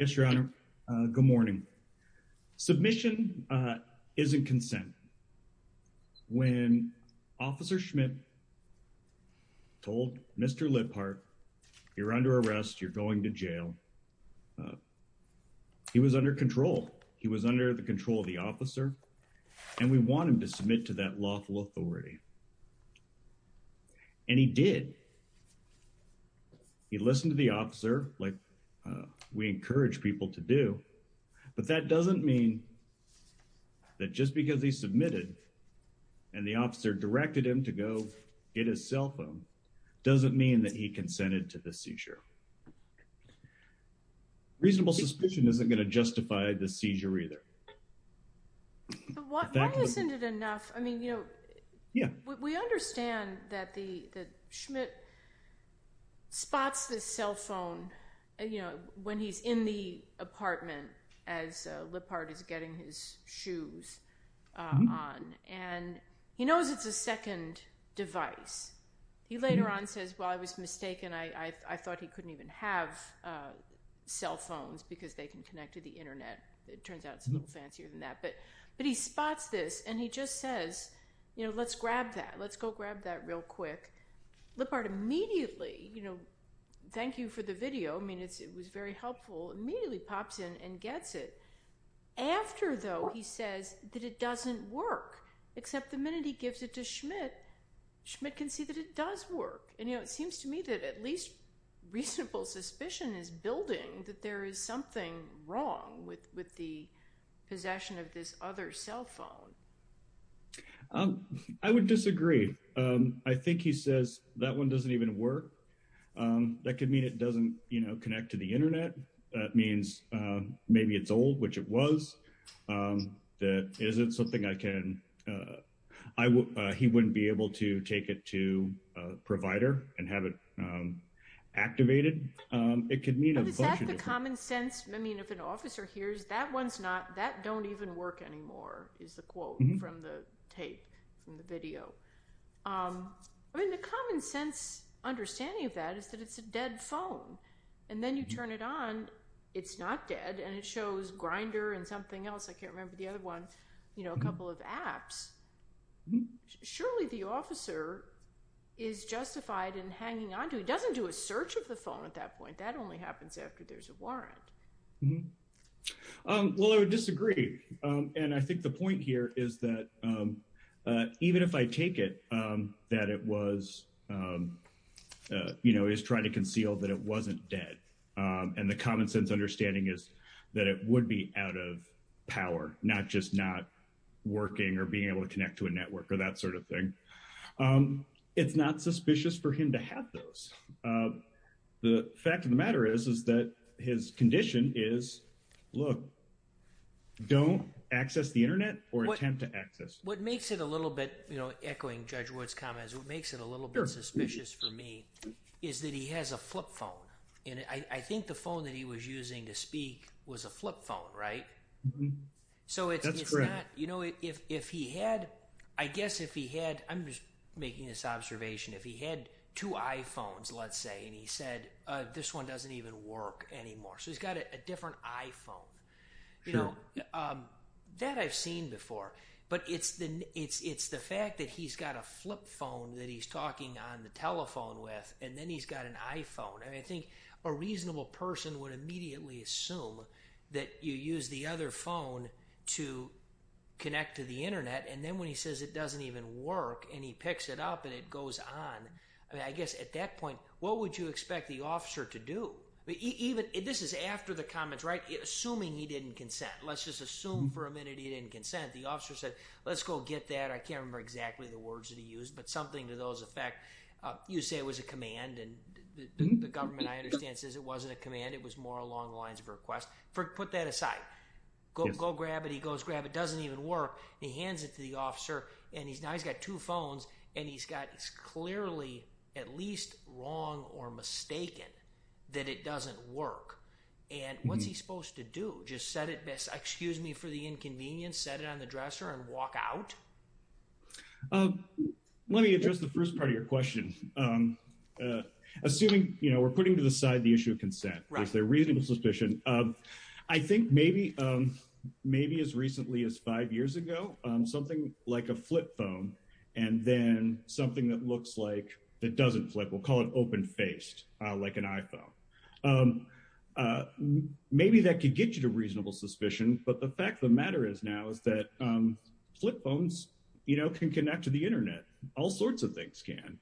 Yes your honor, good morning. Submission isn't consent. When officer Schmidt told Mr. Liphart, you're under arrest, you're going to jail. He was under control. He was under the control of the officer. And we want him to submit to that lawful authority. And he did. He listened to the officer like we encourage people to do. But that doesn't mean that just because he submitted, and the officer directed him to go get his cell phone, doesn't mean that he consented to the seizure. Reasonable suspicion isn't going to justify the seizure either. Why isn't it enough? I mean, you know, yeah, we understand that the Schmidt spots the cell phone when he's in the apartment as Liphart is getting his shoes on. And he knows it's a second device. He later on says, well, I was mistaken. I thought he couldn't even have cell phones because they can connect to the internet. It turns out it's a little fancier than that. But he spots this and he just says, you know, let's grab that. Let's go grab that real quick. Liphart immediately, you know, thank you for the video. I mean, it was very helpful. Immediately pops in and gets it. After, though, he says that it doesn't work. Except the minute he gives it to Schmidt, Schmidt can see that it does work. And, you know, it seems to me that at least reasonable suspicion is building that there is something wrong with the possession of this other cell phone. I would disagree. I think he says that one doesn't even work. That could mean it doesn't, you know, connect to the internet. That means maybe it's old, which it was. That isn't something I can, he wouldn't be able to take it to a provider and have it activated. It could mean a bunch of different things. Is that the common sense? I mean, if an officer hears that one's not, that don't even work anymore, is the quote from the tape, from the video. I mean, the common sense understanding of that is that it's a dead phone. And then you turn it on. It's not dead. And it shows Grindr and something else. I can't remember the other one. You know, a couple of apps. Surely the officer is justified in hanging on to it. He doesn't do a search of the phone at that point. That only makes sense. Well, I would disagree. And I think the point here is that even if I take it, that it was, you know, is trying to conceal that it wasn't dead. And the common sense understanding is that it would be out of power, not just not working or being able to connect to a network or that sort of thing. It's not suspicious for him to have those. The fact of the matter is, is that his condition is, look, don't access the internet or attempt to access. What makes it a little bit, you know, echoing Judge Wood's comments, what makes it a little bit suspicious for me is that he has a flip phone. And I think the phone that he was using to speak was a flip phone, right? So it's not, you know, if he had, I guess if he had, I'm just making this anymore. So he's got a different iPhone, you know, that I've seen before, but it's the, it's, it's the fact that he's got a flip phone that he's talking on the telephone with, and then he's got an iPhone. And I think a reasonable person would immediately assume that you use the other phone to connect to the internet. And then when he says it doesn't even work and he picks it up and it goes on, I mean, I guess at that point, what would you expect the even, this is after the comments, right? Assuming he didn't consent, let's just assume for a minute he didn't consent. The officer said, let's go get that. I can't remember exactly the words that he used, but something to those effect. You say it was a command and the government, I understand, says it wasn't a command. It was more along the lines of request. For, put that aside, go grab it. He goes grab, it doesn't even work. He hands it to the officer and he's now, he's got two phones and he's got, he's clearly at least wrong or mistaken that it doesn't work. And what's he supposed to do? Just set it, excuse me for the inconvenience, set it on the dresser and walk out? Let me address the first part of your question. Assuming, you know, we're putting to the side the issue of consent, there's a reasonable suspicion I think maybe as recently as five years ago, something like a flip phone and then something that looks like, that doesn't flip, we'll call it open-faced, like an iPhone. Maybe that could get you to reasonable suspicion, but the fact of the matter is now is that flip phones, you know, can connect to the internet. All sorts of things can.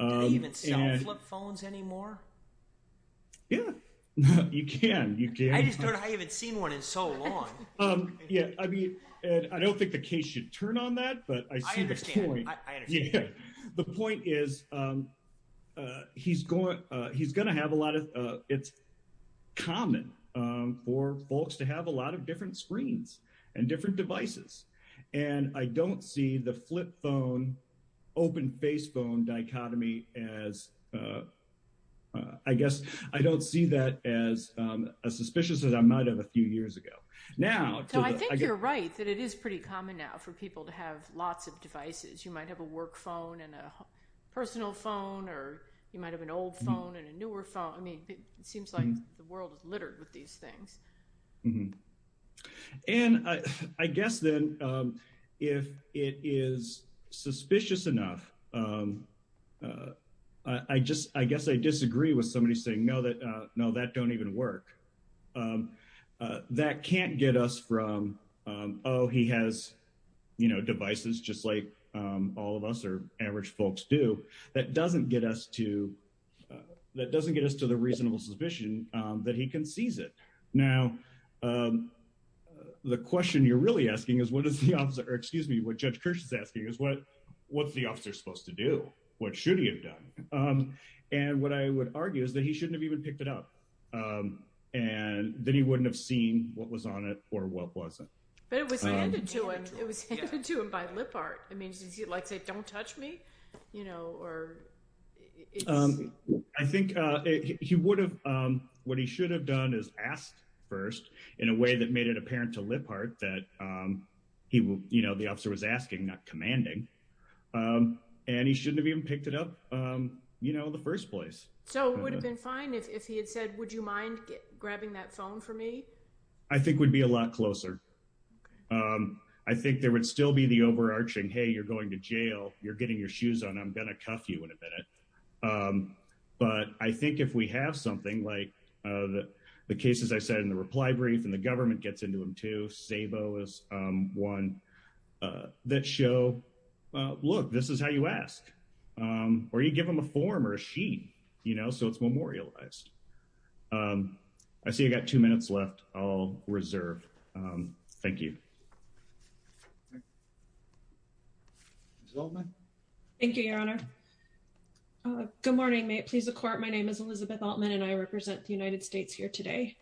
Do they even sell flip phones anymore? Yeah, you can, you can. I just don't know how you haven't seen one in so long. Yeah, I mean, and I don't think the case should turn on that, but I see the point. I understand, I understand. Yeah, the point is he's going, he's going to have a lot of, it's common for folks to have a lot of different screens and different devices. And I don't see the flip phone, open-faced phone dichotomy as, I guess, I don't see that as suspicious as I might have a few years ago. Now, I think you're right that it is pretty common now for people to have lots of devices. You might have a work phone and a personal phone, or you might have an old phone and a newer phone. I mean, it seems like the world is littered with these things. Mm-hmm. And I guess then, if it is suspicious enough, I just, I guess I disagree with somebody saying, no, that, no, that don't even work. That can't get us from, oh, he has, you know, devices just like all of us or average folks do. That doesn't get us to, that doesn't get us to the reasonable suspicion that he can seize it. Now, the question you're really asking is, what is the officer, or excuse me, what Judge Kirsch is asking is, what's the officer supposed to do? What should he have done? And what I would argue is that he shouldn't have even picked it up. And then he wouldn't have seen what was on it or what wasn't. But it was handed to him. It was handed to him by lip art. I mean, he'd like say, don't touch me, you know, or. I think he would have, what he should have done is ask first in a way that made it apparent to lip art that he will, you know, the officer was asking, not commanding. And he shouldn't have even picked it up, you know, in the first place. So it would have been fine if he had said, would you mind grabbing that phone for me? I think would be a lot closer. I think there would still be the overarching, hey, you're going to jail, you're getting your shoes on, I'm going to cuff you in a minute. But I think if we have something like the cases I said in the reply brief, and the government gets into them too, Sabo is one that show, look, this is how you ask. Or you give them a form or a sheet, you know, so it's memorialized. I see I got two minutes left. I'll reserve. Thank you. Well, thank you, your honor. Good morning, may it please the court. My name is Elizabeth Altman, and I represent the United States here today.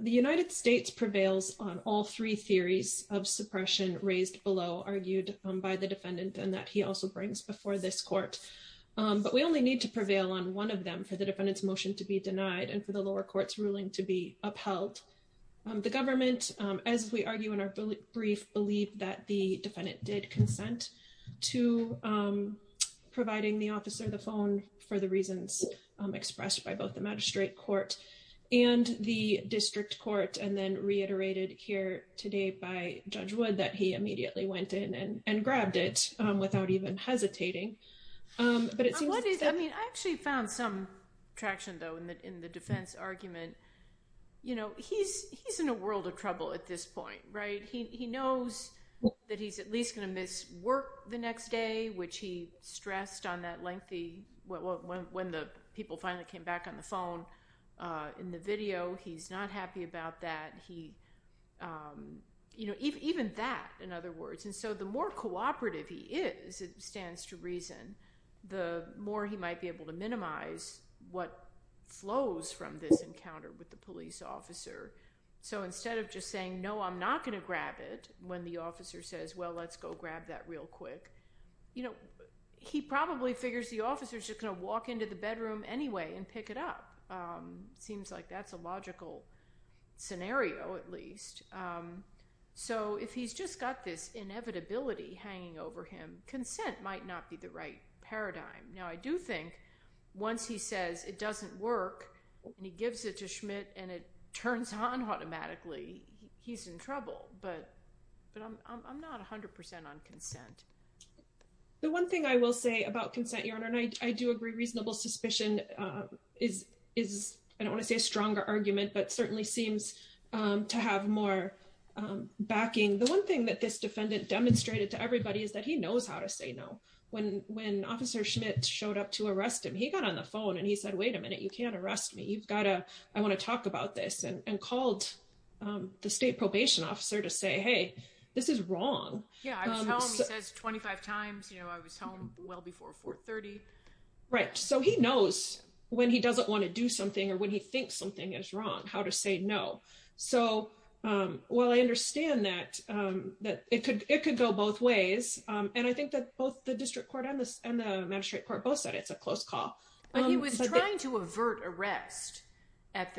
The United States prevails on all three theories of suppression raised below, argued by the defendant and that he also brings before this court. But we only need to prevail on one of them for the defendant's motion to be denied and for the lower courts ruling to be upheld. The government, as we argue in our brief, believe that the defendant did consent to providing the officer the phone for the reasons expressed by both the magistrate court and the district court. And then reiterated here today by Judge Wood, that he immediately went in and grabbed it without even hesitating. But it seems- I mean, I actually found some traction, though, in the defense argument. You know, he's in a world of trouble at this point, right? He knows that he's at least going to miss work the next day, which he stressed on that lengthy- when the people finally came back on the phone in the video. He's not happy about that. He- you know, even that, in other words. And so the more cooperative he is, it stands to reason, the more he might be able to minimize what flows from this encounter with the police officer. So instead of just saying, no, I'm not going to grab it, when the officer says, well, let's go grab that real quick. You know, he probably figures the officer's just going to walk into the bedroom anyway and pick it up. Seems like that's a logical scenario, at least. So if he's just got this inevitability hanging over him, consent might not be the right paradigm. Now, I do think once he says it doesn't work and he gives it to Schmidt and it turns on automatically, he's in trouble. But I'm not 100% on consent. The one thing I will say about consent, Your Honor, and I do agree reasonable suspicion is, I don't want to say a stronger argument, but certainly seems to have more backing. The one thing that this defendant demonstrated to everybody is that he knows how to say no. When Officer Schmidt showed up to arrest him, he got on the phone and he said, wait a minute, you can't arrest me. I want to talk about this and called the state probation officer to say, hey, this is wrong. Yeah, I was home, he says 25 times, you know, I was home well before 4.30. Right. So he knows when he doesn't want to do something or when he thinks something is wrong, how to say no. So, well, I understand that it could go both ways. And I think that both the district court and the magistrate court both said it's a close call. But he was trying to avert arrest.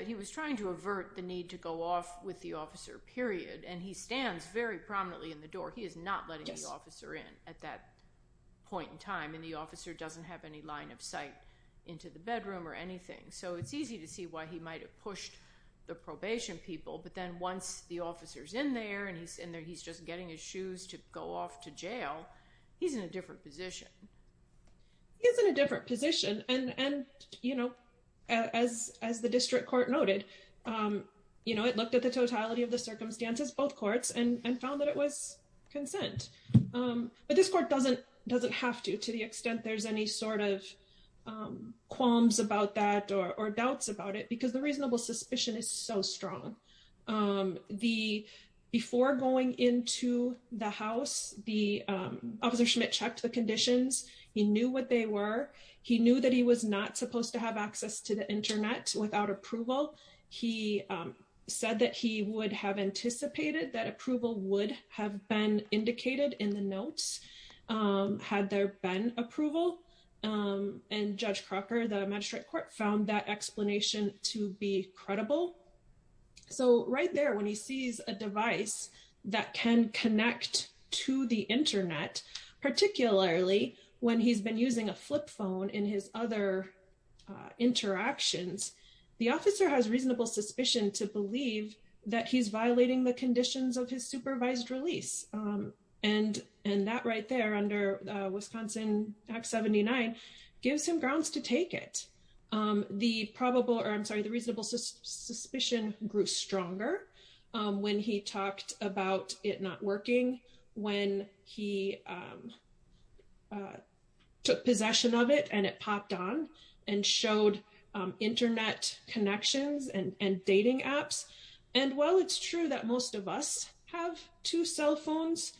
He was trying to avert the need to go off with the officer, period. And he stands very prominently in the door. He is not letting the officer in at that point in time. And the officer doesn't have any line of sight into the bedroom or anything. So it's easy to see why he might've pushed the probation people. But then once the officer's in there and he's in there, he's just getting his shoes to go off to jail. He's in a different position. He is in a different position. And, you know, as the district court noted, you know, it looked at the totality of the circumstances, both courts and found that it was consent. But this court doesn't have to, to the extent there's any sort of qualms about that or doubts about it because the reasonable suspicion is so strong. Um, the, before going into the house, the, um, officer Schmidt checked the conditions. He knew what they were. He knew that he was not supposed to have access to the internet without approval. He, um, said that he would have anticipated that approval would have been indicated in the notes, um, had there been approval, um, and judge Crocker, the magistrate court found that explanation to be credible. So right there, when he sees a device that can connect to the internet, particularly when he's been using a flip phone in his other, uh, interactions, the officer has reasonable suspicion to believe that he's violating the conditions of his supervised release. Um, and, and that right there under, uh, Wisconsin act 79 gives him grounds to take it. Um, the probable, or I'm sorry, the reasonable suspicion grew stronger, um, when he talked about it not working when he, um, uh, took possession of it and it popped on and showed, um, internet connections and, and dating apps. And while it's true that most of us have two cell phones,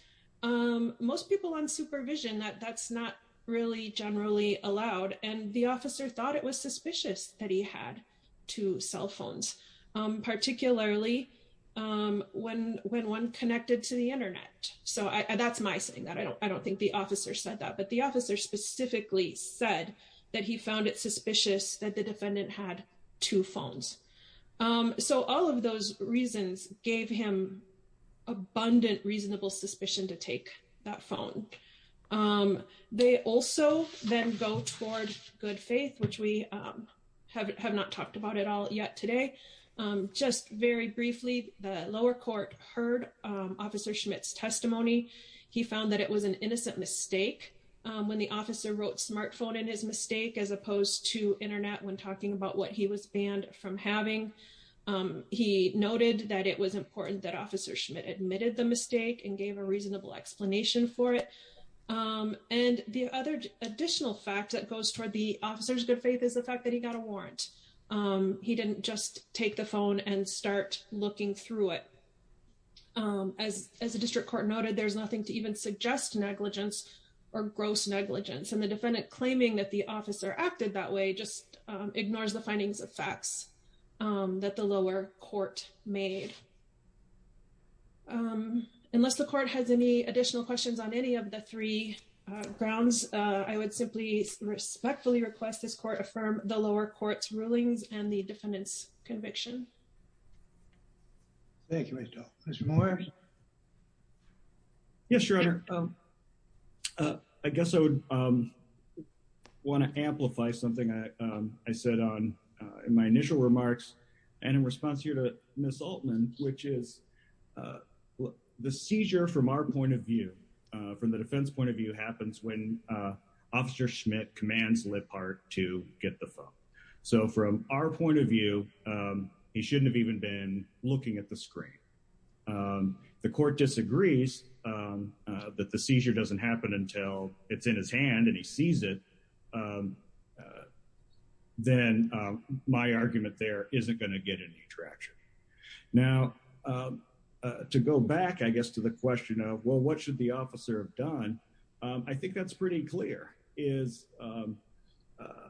um, most people on supervision that that's not really generally allowed. And the officer thought it was suspicious that he had two cell phones, um, particularly, um, when, when one connected to the internet. So that's my saying that I don't, I don't think the officer said that, but the officer specifically said that he found it suspicious that the defendant had two phones. Um, so all of those reasons gave him abundant reasonable suspicion to take that phone. Um, they also then go towards good faith, which we, um, have, have not talked about it all yet today. Um, just very briefly, the lower court heard, um, officer Schmidt's testimony. He found that it was an innocent mistake. Um, when the officer wrote smartphone in his mistake, as opposed to internet, when talking about what he was banned from having, um, he noted that it was important that officer Schmidt admitted the mistake and gave a reasonable explanation for it. Um, and the other additional fact that goes toward the officer's good faith is the fact that he got a warrant. Um, he didn't just take the phone and start looking through it. Um, as, as a district court noted, there's nothing to even suggest negligence or gross negligence. And the defendant claiming that the officer acted that way, just, um, ignores the findings of facts, um, that the lower court made. Um, unless the court has any additional questions on any of the three, uh, grounds, uh, I would simply respectfully request this court affirm the lower court's rulings and the defendant's conviction. Thank you. Mr. Morris. Yes, Your Honor. Um, uh, I guess I would, um, want to amplify something I, um, I said on, uh, in my initial remarks and in response here to Ms. Altman, which is, uh, the seizure from our point of view, uh, from the defense point of view happens when, uh, officer Schmidt commands Lippard to get the phone. So from our point of view, um, he shouldn't have even been looking at the screen. Um, the court disagrees, um, uh, the seizure doesn't happen until it's in his hand and he sees it, um, uh, then, um, my argument there isn't going to get any traction. Now, um, uh, to go back, I guess, to the question of, well, what should the officer have done? Um, I think that's pretty clear is, um, uh,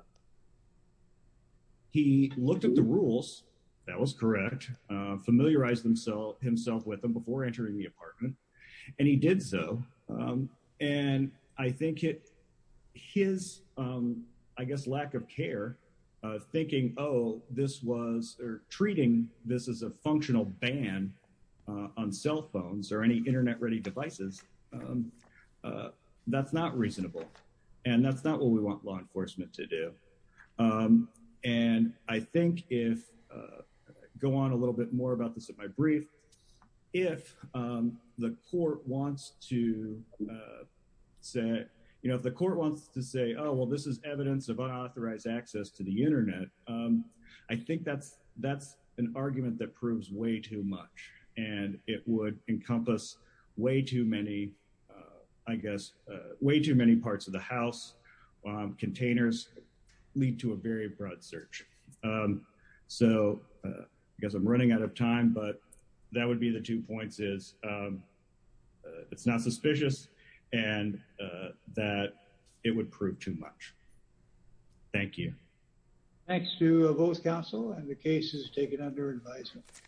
he looked at the rules, that was correct, uh, familiarized himself with them before entering the apartment and he did so, um, and I think it, his, um, I guess lack of care, uh, thinking, oh, this was, or treating this as a functional ban, uh, on cell phones or any internet ready devices, um, uh, that's not reasonable and that's not what we want law enforcement to do. Um, and I think if, uh, go on a little bit more about this at my brief, if, um, the court wants to, uh, say, you know, if the court wants to say, oh, well, this is evidence of unauthorized access to the internet, um, I think that's, that's an argument that proves way too much and it would encompass way too many, uh, I guess, uh, way too many parts of the house, um, containers lead to a very broad search. Um, so, uh, I guess I'm running out of time, but that would be the two points is, um, uh, it's not suspicious and, uh, that it would prove too much. Thank you. Thanks to both counsel and the case is taken under advisement.